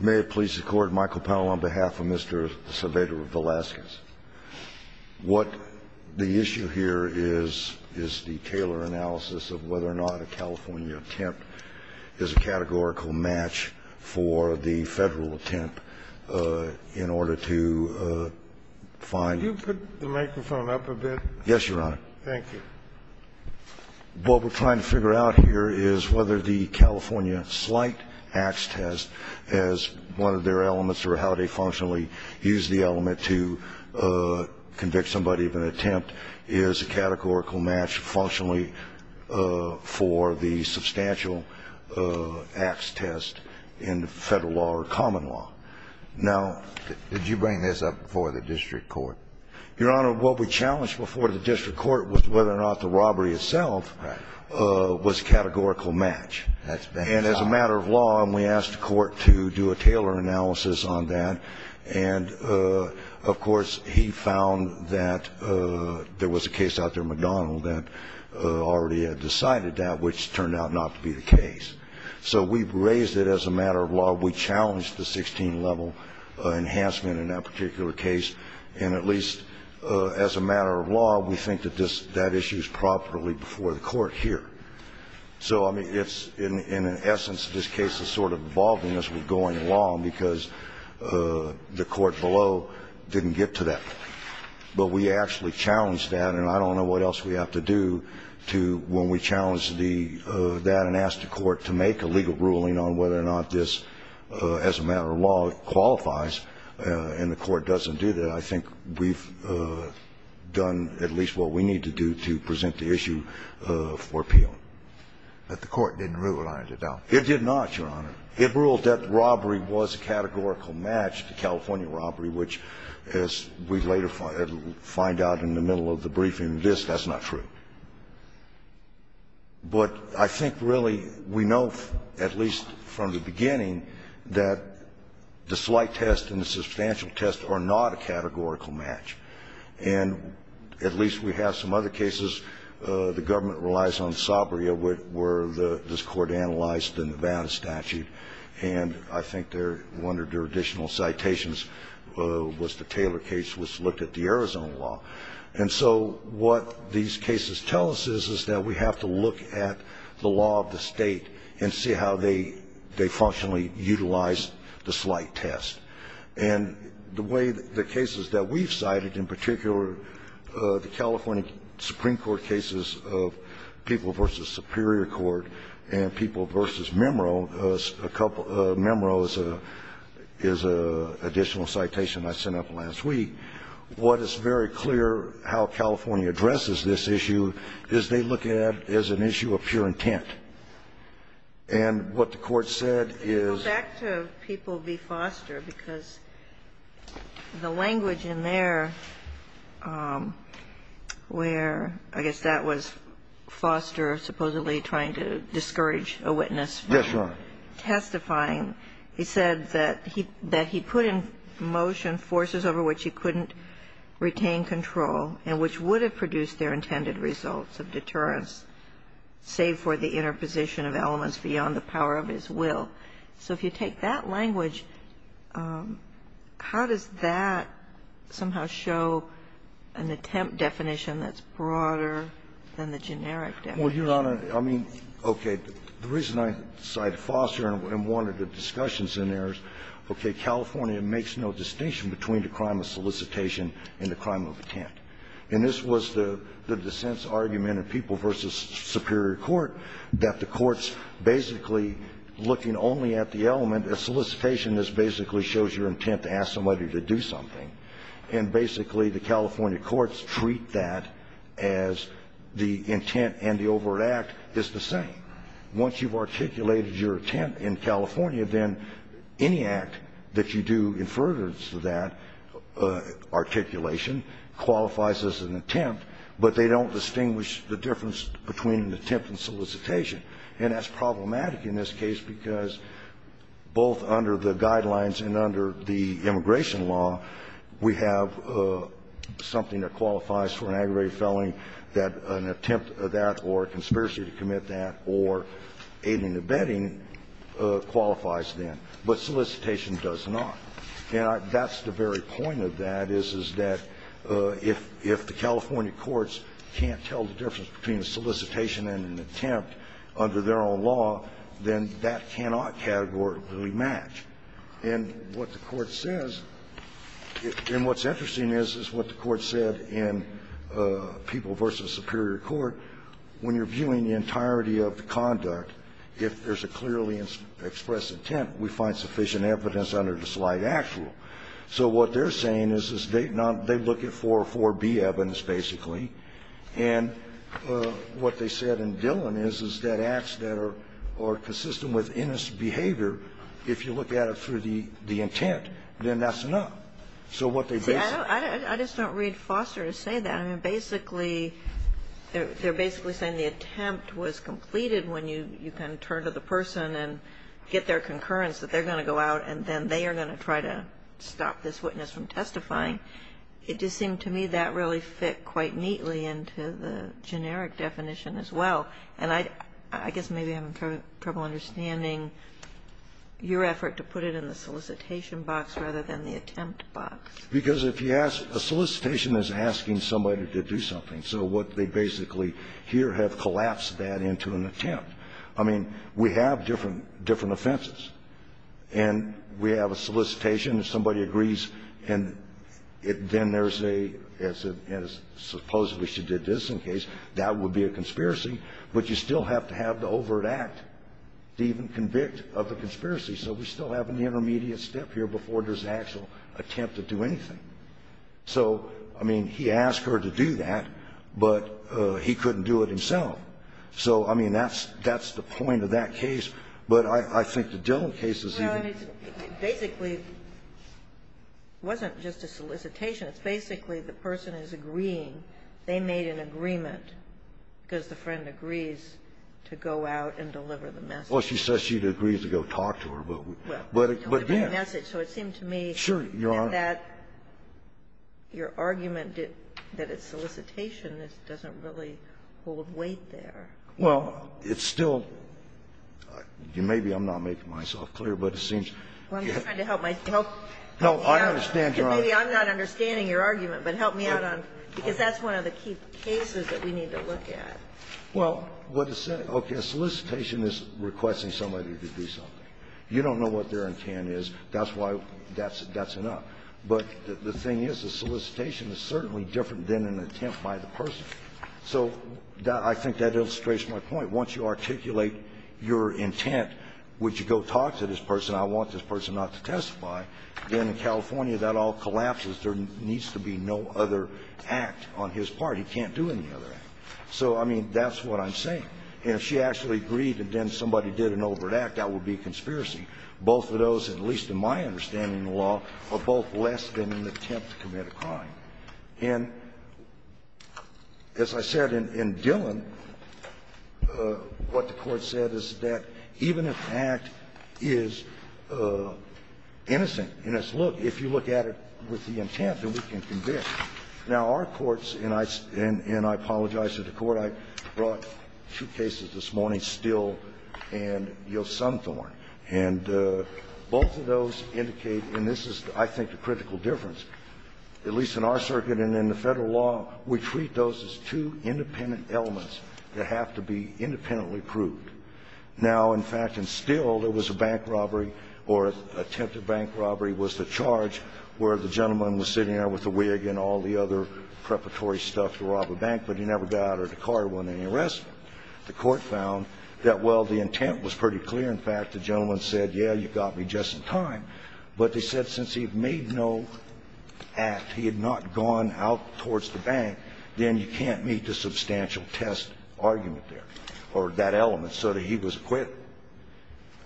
May it please the court, Michael Powell on behalf of Mr. Saavedra-Velazquez. What the issue here is, is the Taylor analysis of whether or not a California attempt is a categorical match for the federal attempt in order to find Could you put the microphone up a bit? Yes, your honor. Thank you. What we're trying to figure out here is whether the California slight acts test as one of their elements or how they functionally use the element to convict somebody of an attempt is a categorical match functionally for the substantial acts test in federal law or common law. Now, did you bring this up before the district court? Your honor, what we challenged before the district court was whether or not the robbery itself was a categorical match. And as a matter of law, we asked the court to do a Taylor analysis on that. And, of course, he found that there was a case out there, McDonald, that already had decided that, which turned out not to be the case. So we've raised it as a matter of law. We challenged the 16-level enhancement in that particular case. And at least as a matter of law, we think that that issue is properly before the court here. So, I mean, it's in essence this case is sort of involving us with going along because the court below didn't get to that. But we actually challenged that. And I don't know what else we have to do when we challenge that and ask the court to make a legal ruling on whether or not this, as a matter of law, qualifies. And the court doesn't do that. I think we've done at least what we need to do to present the issue for appeal. But the court didn't rule on it, I doubt. It did not, Your Honor. It ruled that robbery was a categorical match to California robbery, which, as we later find out in the middle of the briefing, this, that's not true. But I think really we know, at least from the beginning, that the slight test and the substantial test are not a categorical match. And at least we have some other cases. The government relies on Sabria, where this court analyzed the Nevada statute. And I think one of their additional citations was the Taylor case, which looked at the Arizona law. And so what these cases tell us is, is that we have to look at the law of the state and see how they functionally utilize the slight test. And the way the cases that we've cited, in particular, the California Supreme Court cases of People v. Superior Court and People v. Memro, Memro is an additional citation I sent up last week, what is very clear how California addresses this issue is they look at it as an issue of pure intent. And what the court said is that the state should be able to utilize the slight test because the language in there where, I guess that was Foster supposedly trying to discourage a witness from testifying, he said that he put in motion forces over which he couldn't retain control and which would have produced their intended results of deterrence, save for the interposition of elements beyond the power of his will. So if you take that language, how does that somehow show an attempt definition that's broader than the generic definition? Well, Your Honor, I mean, okay, the reason I cited Foster in one of the discussions in there is, okay, California makes no distinction between the crime of solicitation and the crime of attempt. And this was the dissent's argument in People v. Superior Court, that the courts basically, looking only at the element of solicitation, this basically shows your intent to ask somebody to do something. And basically the California courts treat that as the intent and the overt act is the same. Once you've articulated your attempt in California, then any act that you do in furtherance to that articulation qualifies as an attempt, but they don't distinguish the difference between an attempt and solicitation. And that's problematic in this case, because both under the guidelines and under the immigration law, we have something that qualifies for an aggravated felony, that an attempt of that or a conspiracy to commit that or aiding and abetting qualifies then, but solicitation does not. And that's the very point of that, is that if the California courts can't tell the difference under their own law, then that cannot categorically match. And what the Court says, and what's interesting is, is what the Court said in People v. Superior Court, when you're viewing the entirety of the conduct, if there's a clearly expressed intent, we find sufficient evidence under the slight act rule. So what they're saying is, is they look at 404B evidence, basically, and what they said in Dillon is, is that acts that are consistent with innocent behavior, if you look at it through the intent, then that's enough. So what they basically say is the intent. Kagan. I just don't read Foster to say that. I mean, basically, they're basically saying the attempt was completed when you can turn to the person and get their concurrence that they're going to go out and then they are going to try to stop this witness from testifying. It just seemed to me that really fit quite neatly into the generic definition as well. And I guess maybe I'm in trouble understanding your effort to put it in the solicitation box rather than the attempt box. Because if you ask the solicitation is asking somebody to do something. So what they basically hear have collapsed that into an attempt. I mean, we have different offenses. And we have a solicitation, if somebody agrees, and then there's a, as a, as supposedly she did this in case, that would be a conspiracy. But you still have to have the overt act to even convict of the conspiracy. So we still have an intermediate step here before there's an actual attempt to do anything. So, I mean, he asked her to do that, but he couldn't do it himself. So, I mean, that's, that's the point of that case. But I think the Dillon case is even. Basically, it wasn't just a solicitation. It's basically the person is agreeing. They made an agreement because the friend agrees to go out and deliver the message. Well, she said she'd agree to go talk to her, but, but, but, yeah. So it seemed to me that that, your argument that it's solicitation doesn't really hold weight there. Well, it's still, maybe I'm not making myself clear, but it seems. Well, I'm just trying to help my, help me out. No, I understand, Your Honor. Because maybe I'm not understanding your argument, but help me out on, because that's one of the key cases that we need to look at. Well, what it says, okay, a solicitation is requesting somebody to do something. You don't know what their intent is. That's why that's, that's enough. But the thing is, a solicitation is certainly different than an attempt by the person. So that, I think that illustrates my point. Once you articulate your intent, would you go talk to this person, I want this person not to testify, then in California that all collapses. There needs to be no other act on his part. He can't do any other act. So, I mean, that's what I'm saying. And if she actually agreed and then somebody did an overt act, that would be a conspiracy. Both of those, at least in my understanding of the law, are both less than an attempt to commit a crime. And as I said in Dillon, what the Court said is that even if an act is innocent in its look, if you look at it with the intent, then we can convict. Now, our courts, and I apologize to the Court, I brought two cases this morning, Steele and Yosanthorn. And both of those indicate, and this is, I think, a critical difference, at least in our circuit and in the federal law, we treat those as two independent elements that have to be independently proved. Now, in fact, in Steele, there was a bank robbery, or attempted bank robbery, was the charge, where the gentleman was sitting there with a wig and all the other preparatory stuff to rob a bank. But he never got out of the car and won any arrest. The court found that, well, the intent was pretty clear. In fact, the gentleman said, yeah, you got me just in time. But they said since he made no act, he had not gone out towards the bank, then you can't meet the substantial test argument there, or that element, so that he was acquitted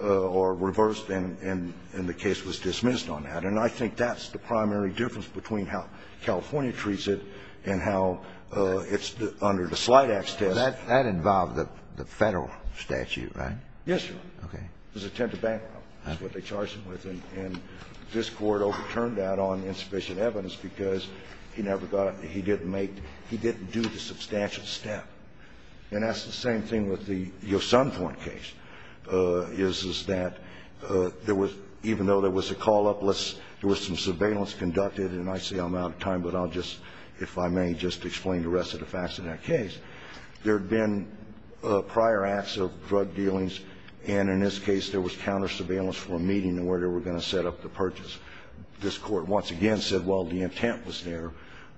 or reversed and the case was dismissed on that. And I think that's the primary difference between how California treats it and how it's under the Slidex test. Kennedy, that involved the federal statute, right? Yes, Your Honor. Okay. It was an attempted bank robbery. That's what they charged him with. And this Court overturned that on insufficient evidence because he never got out. He didn't make the – he didn't do the substantial step. And that's the same thing with the Yosanthorn case, is that there was – even though there was a call-up, there was some surveillance conducted, and I say I'm out of time, but I'll just, if I may, just explain the rest of the facts of that case. There had been prior acts of drug dealings, and in this case there was counter-surveillance for a meeting where they were going to set up the purchase. This Court once again said, well, the intent was there,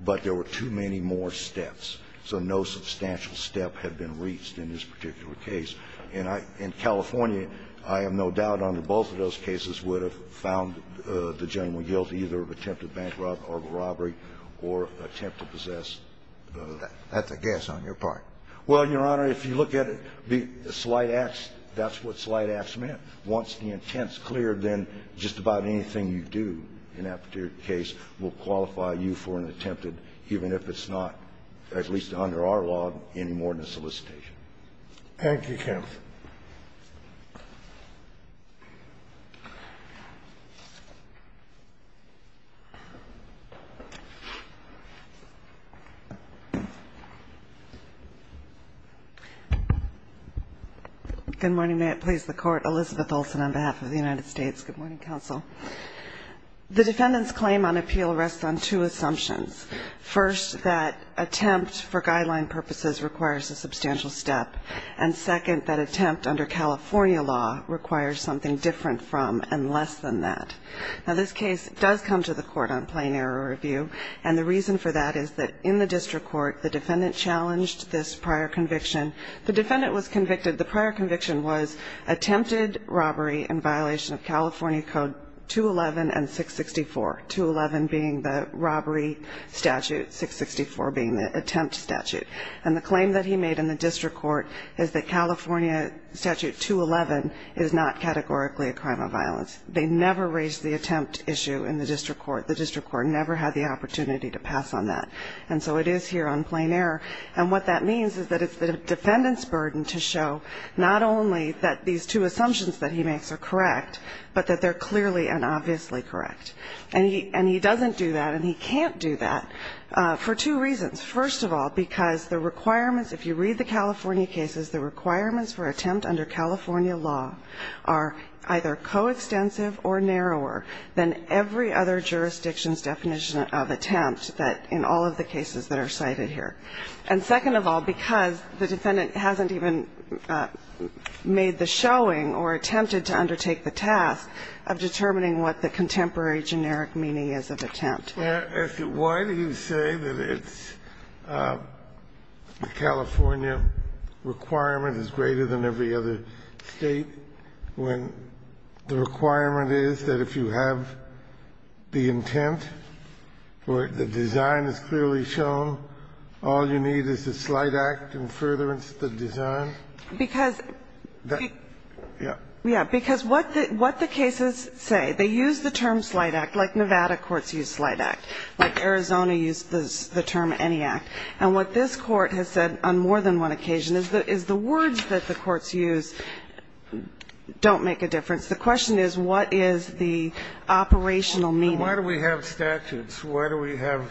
but there were too many more steps, so no substantial step had been reached in this particular case. And I – in California, I have no doubt under both of those cases would have found the gentleman guilty either of attempted bank robbery or attempt to possess the – or attempt to possess the possession of a stolen car, or attempt to possess a stolen vehicle, or attempt to possess a stolen vehicle, or attempt to possess a stolen car. And that's a guess on your part. Well, Your Honor, if you look at it, the slight acts, that's what slight acts meant. Once the intent's cleared, then just about anything you do in that particular case will qualify you for an attempted, even if it's not, at least under our law, any more than a solicitation. Thank you, counsel. Good morning. May it please the Court. Elizabeth Olson on behalf of the United States. Good morning, counsel. The defendant's claim on appeal rests on two assumptions. First, that attempt for guideline purposes requires a substantial step. And second, that attempt under California law requires something different from and less than that. Now, this case does come to the Court on plain error review. And the reason for that is that in the district court, the defendant challenged this prior conviction. The defendant was convicted – the prior conviction was attempted robbery in violation of California Code 211 and 664. 211 being the robbery statute, 664 being the attempt statute. And the claim that he made in the district court is that California statute 211 is not categorically a crime of violence. They never raised the attempt issue in the district court. The district court never had the opportunity to pass on that. And so it is here on plain error. And what that means is that it's the defendant's burden to show not only that these two assumptions that he makes are correct, but that they're clearly and obviously correct. And he doesn't do that and he can't do that for two reasons. First of all, because the requirements – if you read the California cases, the requirements for attempt under California law are either coextensive or narrower than every other jurisdiction's definition of attempt that – in all of the cases that are cited here. And second of all, because the defendant hasn't even made the showing or attempted to undertake the task of determining what the contemporary generic meaning is of attempt. Kennedy. Why do you say that it's – the California requirement is greater than every other State when the requirement is that if you have the intent or the design is clearly shown, all you need is a slight act in furtherance of the design? Because the – Yeah. Yeah. Because what the cases say, they use the term slight act, like Nevada courts use slight act, like Arizona used the term any act. And what this Court has said on more than one occasion is the words that the courts use don't make a difference. The question is what is the operational meaning. Why do we have statutes? Why do we have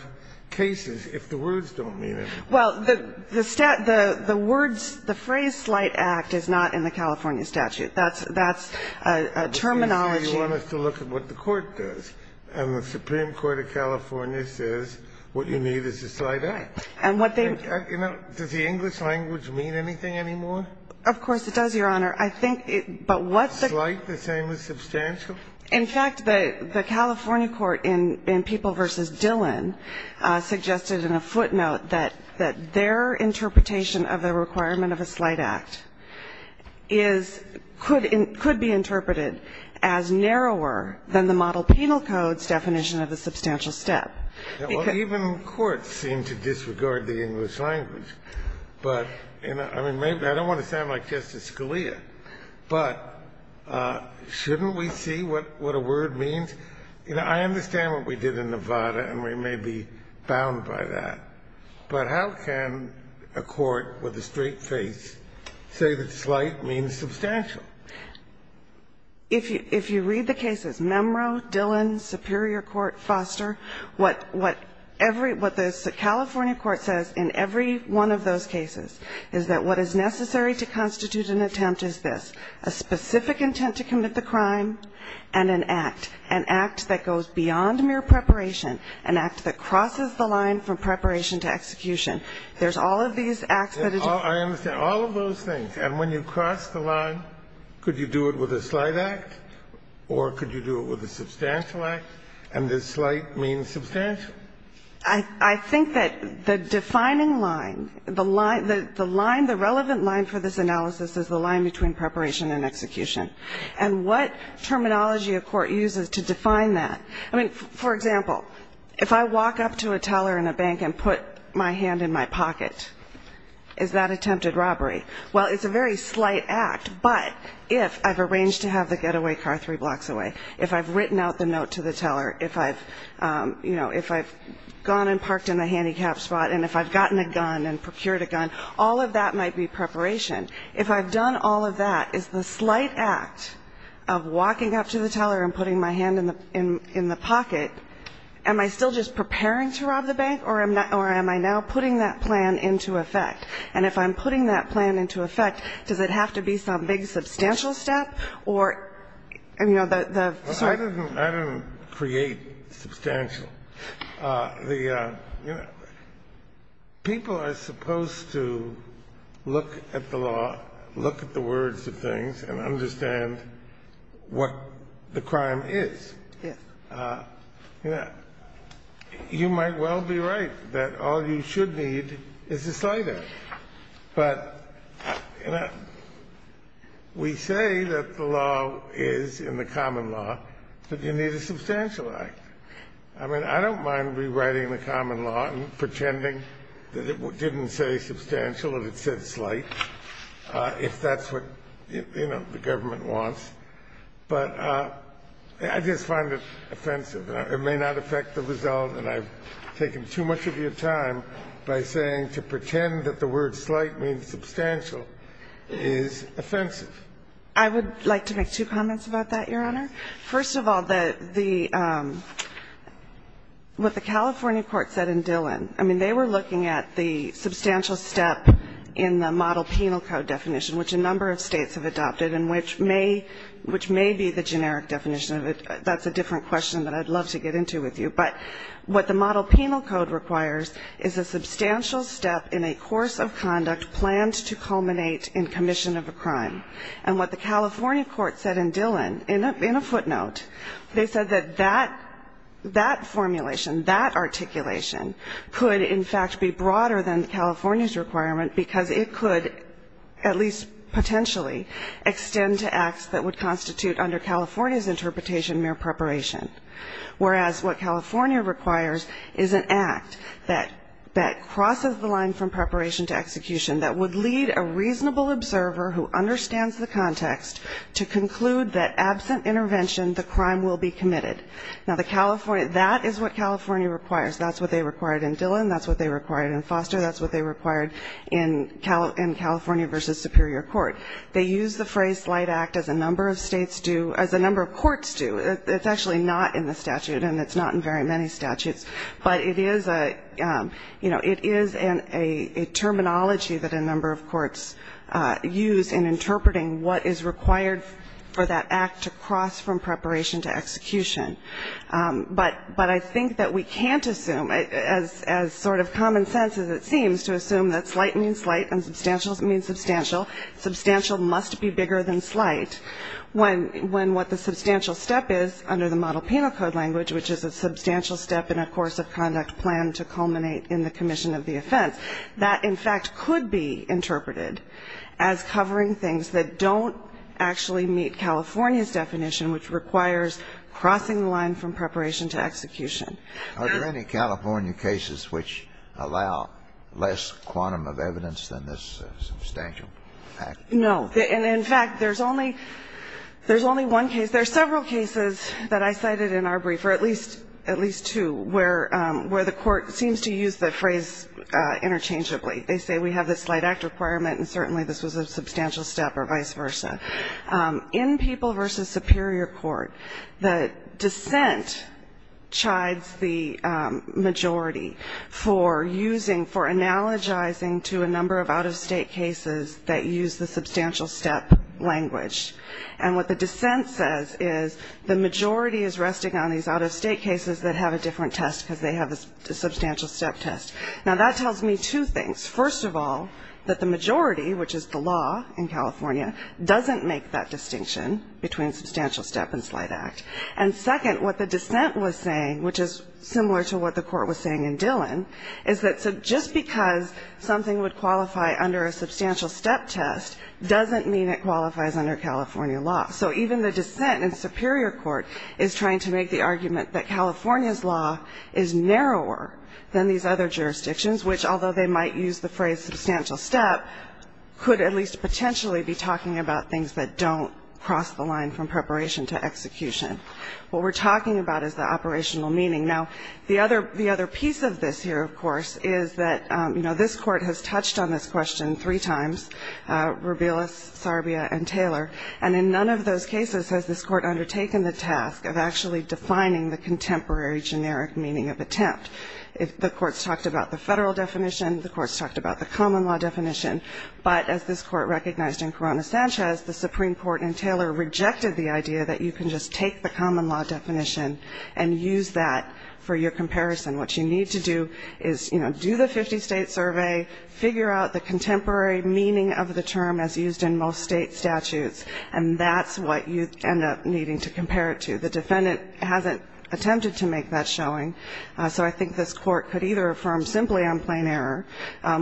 cases if the words don't mean anything? Well, the stat – the words – the phrase slight act is not in the California statute. That's a terminology – So you want us to look at what the Court does. And the Supreme Court of California says what you need is a slight act. And what they – You know, does the English language mean anything anymore? Of course it does, Your Honor. I think – but what's the – Slight, the same as substantial? In fact, the California court in People v. Dillon suggested in a footnote that their interpretation of the requirement of a slight act is – could be interpreted as narrower than the model penal code's definition of the substantial step. Even courts seem to disregard the English language. But, you know, I mean, I don't want to sound like Justice Scalia, but shouldn't we see what a word means? You know, I understand what we did in Nevada, and we may be bound by that. But how can a court with a straight face say that slight means substantial? If you – if you read the cases, Memro, Dillon, Superior Court, Foster, what every – what the California court says in every one of those cases is that what is necessary to constitute an attempt is this, a specific intent to commit the crime and an act, an act that goes beyond mere preparation, an act that crosses the line from preparation to execution. There's all of these acts that – I understand. All of those things. And when you cross the line, could you do it with a slight act, or could you do it with a substantial act, and does slight mean substantial? I think that the defining line, the line – the line – the relevant line for this analysis is the line between preparation and execution. And what terminology a court uses to define that. I mean, for example, if I walk up to a teller in a bank and put my hand in my pocket, is that attempted robbery? Well, it's a very slight act, but if I've arranged to have the getaway car three blocks away, if I've written out the note to the teller, if I've, you know, if I've gone and parked in the handicapped spot, and if I've gotten a gun and procured a gun, all of that might be preparation. If I've done all of that, is the slight act of walking up to the teller and putting my hand in the – in the pocket, am I still just preparing to rob the bank, or am I now putting that plan into effect? And if I'm putting that plan into effect, does it have to be some big substantial step or, you know, the – the – sorry? I didn't create substantial. The – you know, people are supposed to look at the law, look at the words of things, and understand what the crime is. Yes. You know, you might well be right that all you should need is a slight act, but, you know, we say that the law is, in the common law, that you need a substantial act. I mean, I don't mind rewriting the common law and pretending that it didn't say substantial if it said slight, if that's what, you know, the government wants. But I just find it offensive. It may not affect the result, and I've taken too much of your time by saying to pretend that the word slight means substantial is offensive. I would like to make two comments about that, Your Honor. First of all, the – what the California court said in Dillon, I mean, they were looking at the substantial step in the model penal code definition, which a number of states have adopted, and which may – which may be the generic definition of it. That's a different question that I'd love to get into with you. But what the model penal code requires is a substantial step in a course of conduct planned to culminate in commission of a crime. And what the California court said in Dillon, in a footnote, they said that that formulation, that articulation could, in fact, be broader than California's requirement because it could, at least potentially, extend to acts that would constitute under California's interpretation mere preparation, whereas what California requires is an act that crosses the line from preparation to execution that would lead a reasonable observer who understands the context to conclude that absent intervention, the crime will be committed. Now, the California – that is what California requires. That's what they required in Dillon. That's what they required in Foster. That's what they required in California v. Superior Court. They use the phrase slight act as a number of states do – as a number of courts do. It's actually not in the statute, and it's not in very many statutes. But it is a – you know, it is a terminology that a number of courts use in interpreting what is required for that act to cross from preparation to execution. But I think that we can't assume, as sort of common sense as it seems, to assume that slight means slight and substantial means substantial. Substantial must be bigger than slight when what the substantial step is, under the Model Penal Code language, which is a substantial step in a course of conduct planned to culminate in the commission of the offense, that, in fact, could be interpreted as covering things that don't actually meet California's definition, which requires crossing the line from preparation to execution. Are there any California cases which allow less quantum of evidence than this substantial act? No. And, in fact, there's only – there's only one case – there are several cases that I cited in our brief, or at least – at least two, where – where the Court seems to use the phrase interchangeably. They say we have the slight act requirement, and certainly this was a substantial step or vice versa. In People v. Superior Court, the dissent chides the majority for using – for analogizing to a number of out-of-state cases that use the substantial step language. And what the dissent says is the majority is resting on these out-of-state cases that have a different test because they have a substantial step test. Now, that tells me two things. First of all, that the majority, which is the law in California, doesn't make that distinction between substantial step and slight act. And second, what the dissent was saying, which is similar to what the Court was saying in Dillon, is that just because something would qualify under a substantial step test doesn't mean it qualifies under California law. So even the dissent in Superior Court is trying to make the argument that California's law is narrower than these other jurisdictions, which, although they might use the phrase substantial step, could at least potentially be talking about things that don't cross the line from preparation to execution. What we're talking about is the operational meaning. Now, the other piece of this here, of course, is that, you know, this Court has touched on this question three times, Rubilis, Sarbia, and Taylor, and in none of those cases has this Court undertaken the task of actually defining the contemporary generic meaning of attempt. If the Court's talked about the federal definition, the Court's talked about the common law definition, but as this Court recognized in Corona-Sanchez, the Supreme Court and Taylor rejected the idea that you can just take the common law definition and use that for your comparison. What you need to do is, you know, do the 50-state survey, figure out the contemporary meaning of the term as used in most state statutes, and that's what you end up needing to compare it to. The defendant hasn't attempted to make that showing, so I think this Court could either affirm simply on plain error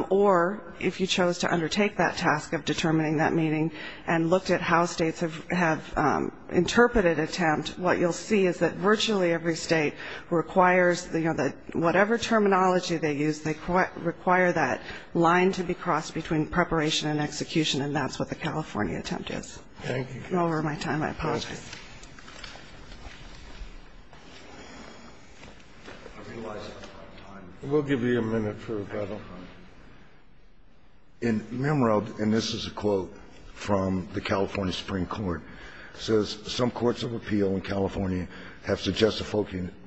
or, if you chose to undertake that task of determining that meaning and looked at how states have interpreted attempt, what you'll see is that virtually every state requires, you know, that whatever terminology they use, they require that line to be crossed between preparation and execution, and that's what the California attempt is. Over my time, I apologize. Scalia. We'll give you a minute for rebuttal. In Mimro, and this is a quote from the California Supreme Court, it says, Some courts of appeal in California have suggested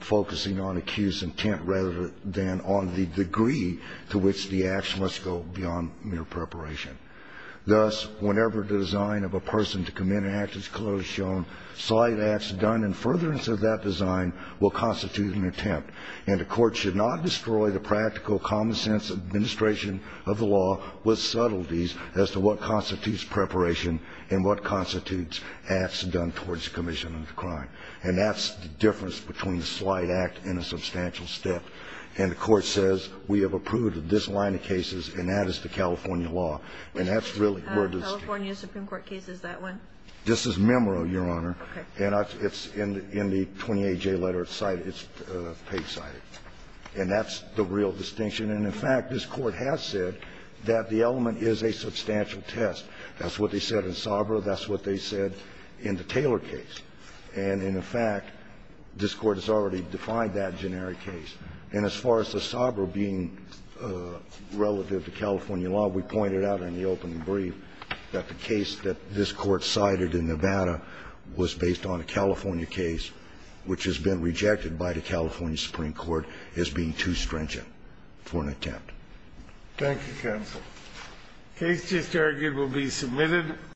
focusing on accused's intent rather than on the degree to which the action must go beyond mere preparation. Thus, whenever the design of a person to commit an act is clearly shown, slight acts done in furtherance of that design will constitute an attempt, and a court should not destroy the practical common-sense administration of the law with subtleties as to what constitutes preparation and what constitutes acts done towards commission of the crime. And that's the difference between a slight act and a substantial step. And the Court says, we have approved this line of cases, and that is the California law, and that's really where the distinction is. California Supreme Court case is that one? This is Mimro, Your Honor. Okay. And it's in the 28J letter. It's paid-sided. And that's the real distinction. And, in fact, this Court has said that the element is a substantial test. That's what they said in Sabra. That's what they said in the Taylor case. And, in fact, this Court has already defined that generic case. And as far as the Sabra being relative to California law, we pointed out in the opening brief that the case that this Court cited in Nevada was based on a California case, which has been rejected by the California Supreme Court as being too stringent for an attempt. Thank you, counsel. The case just argued will be submitted.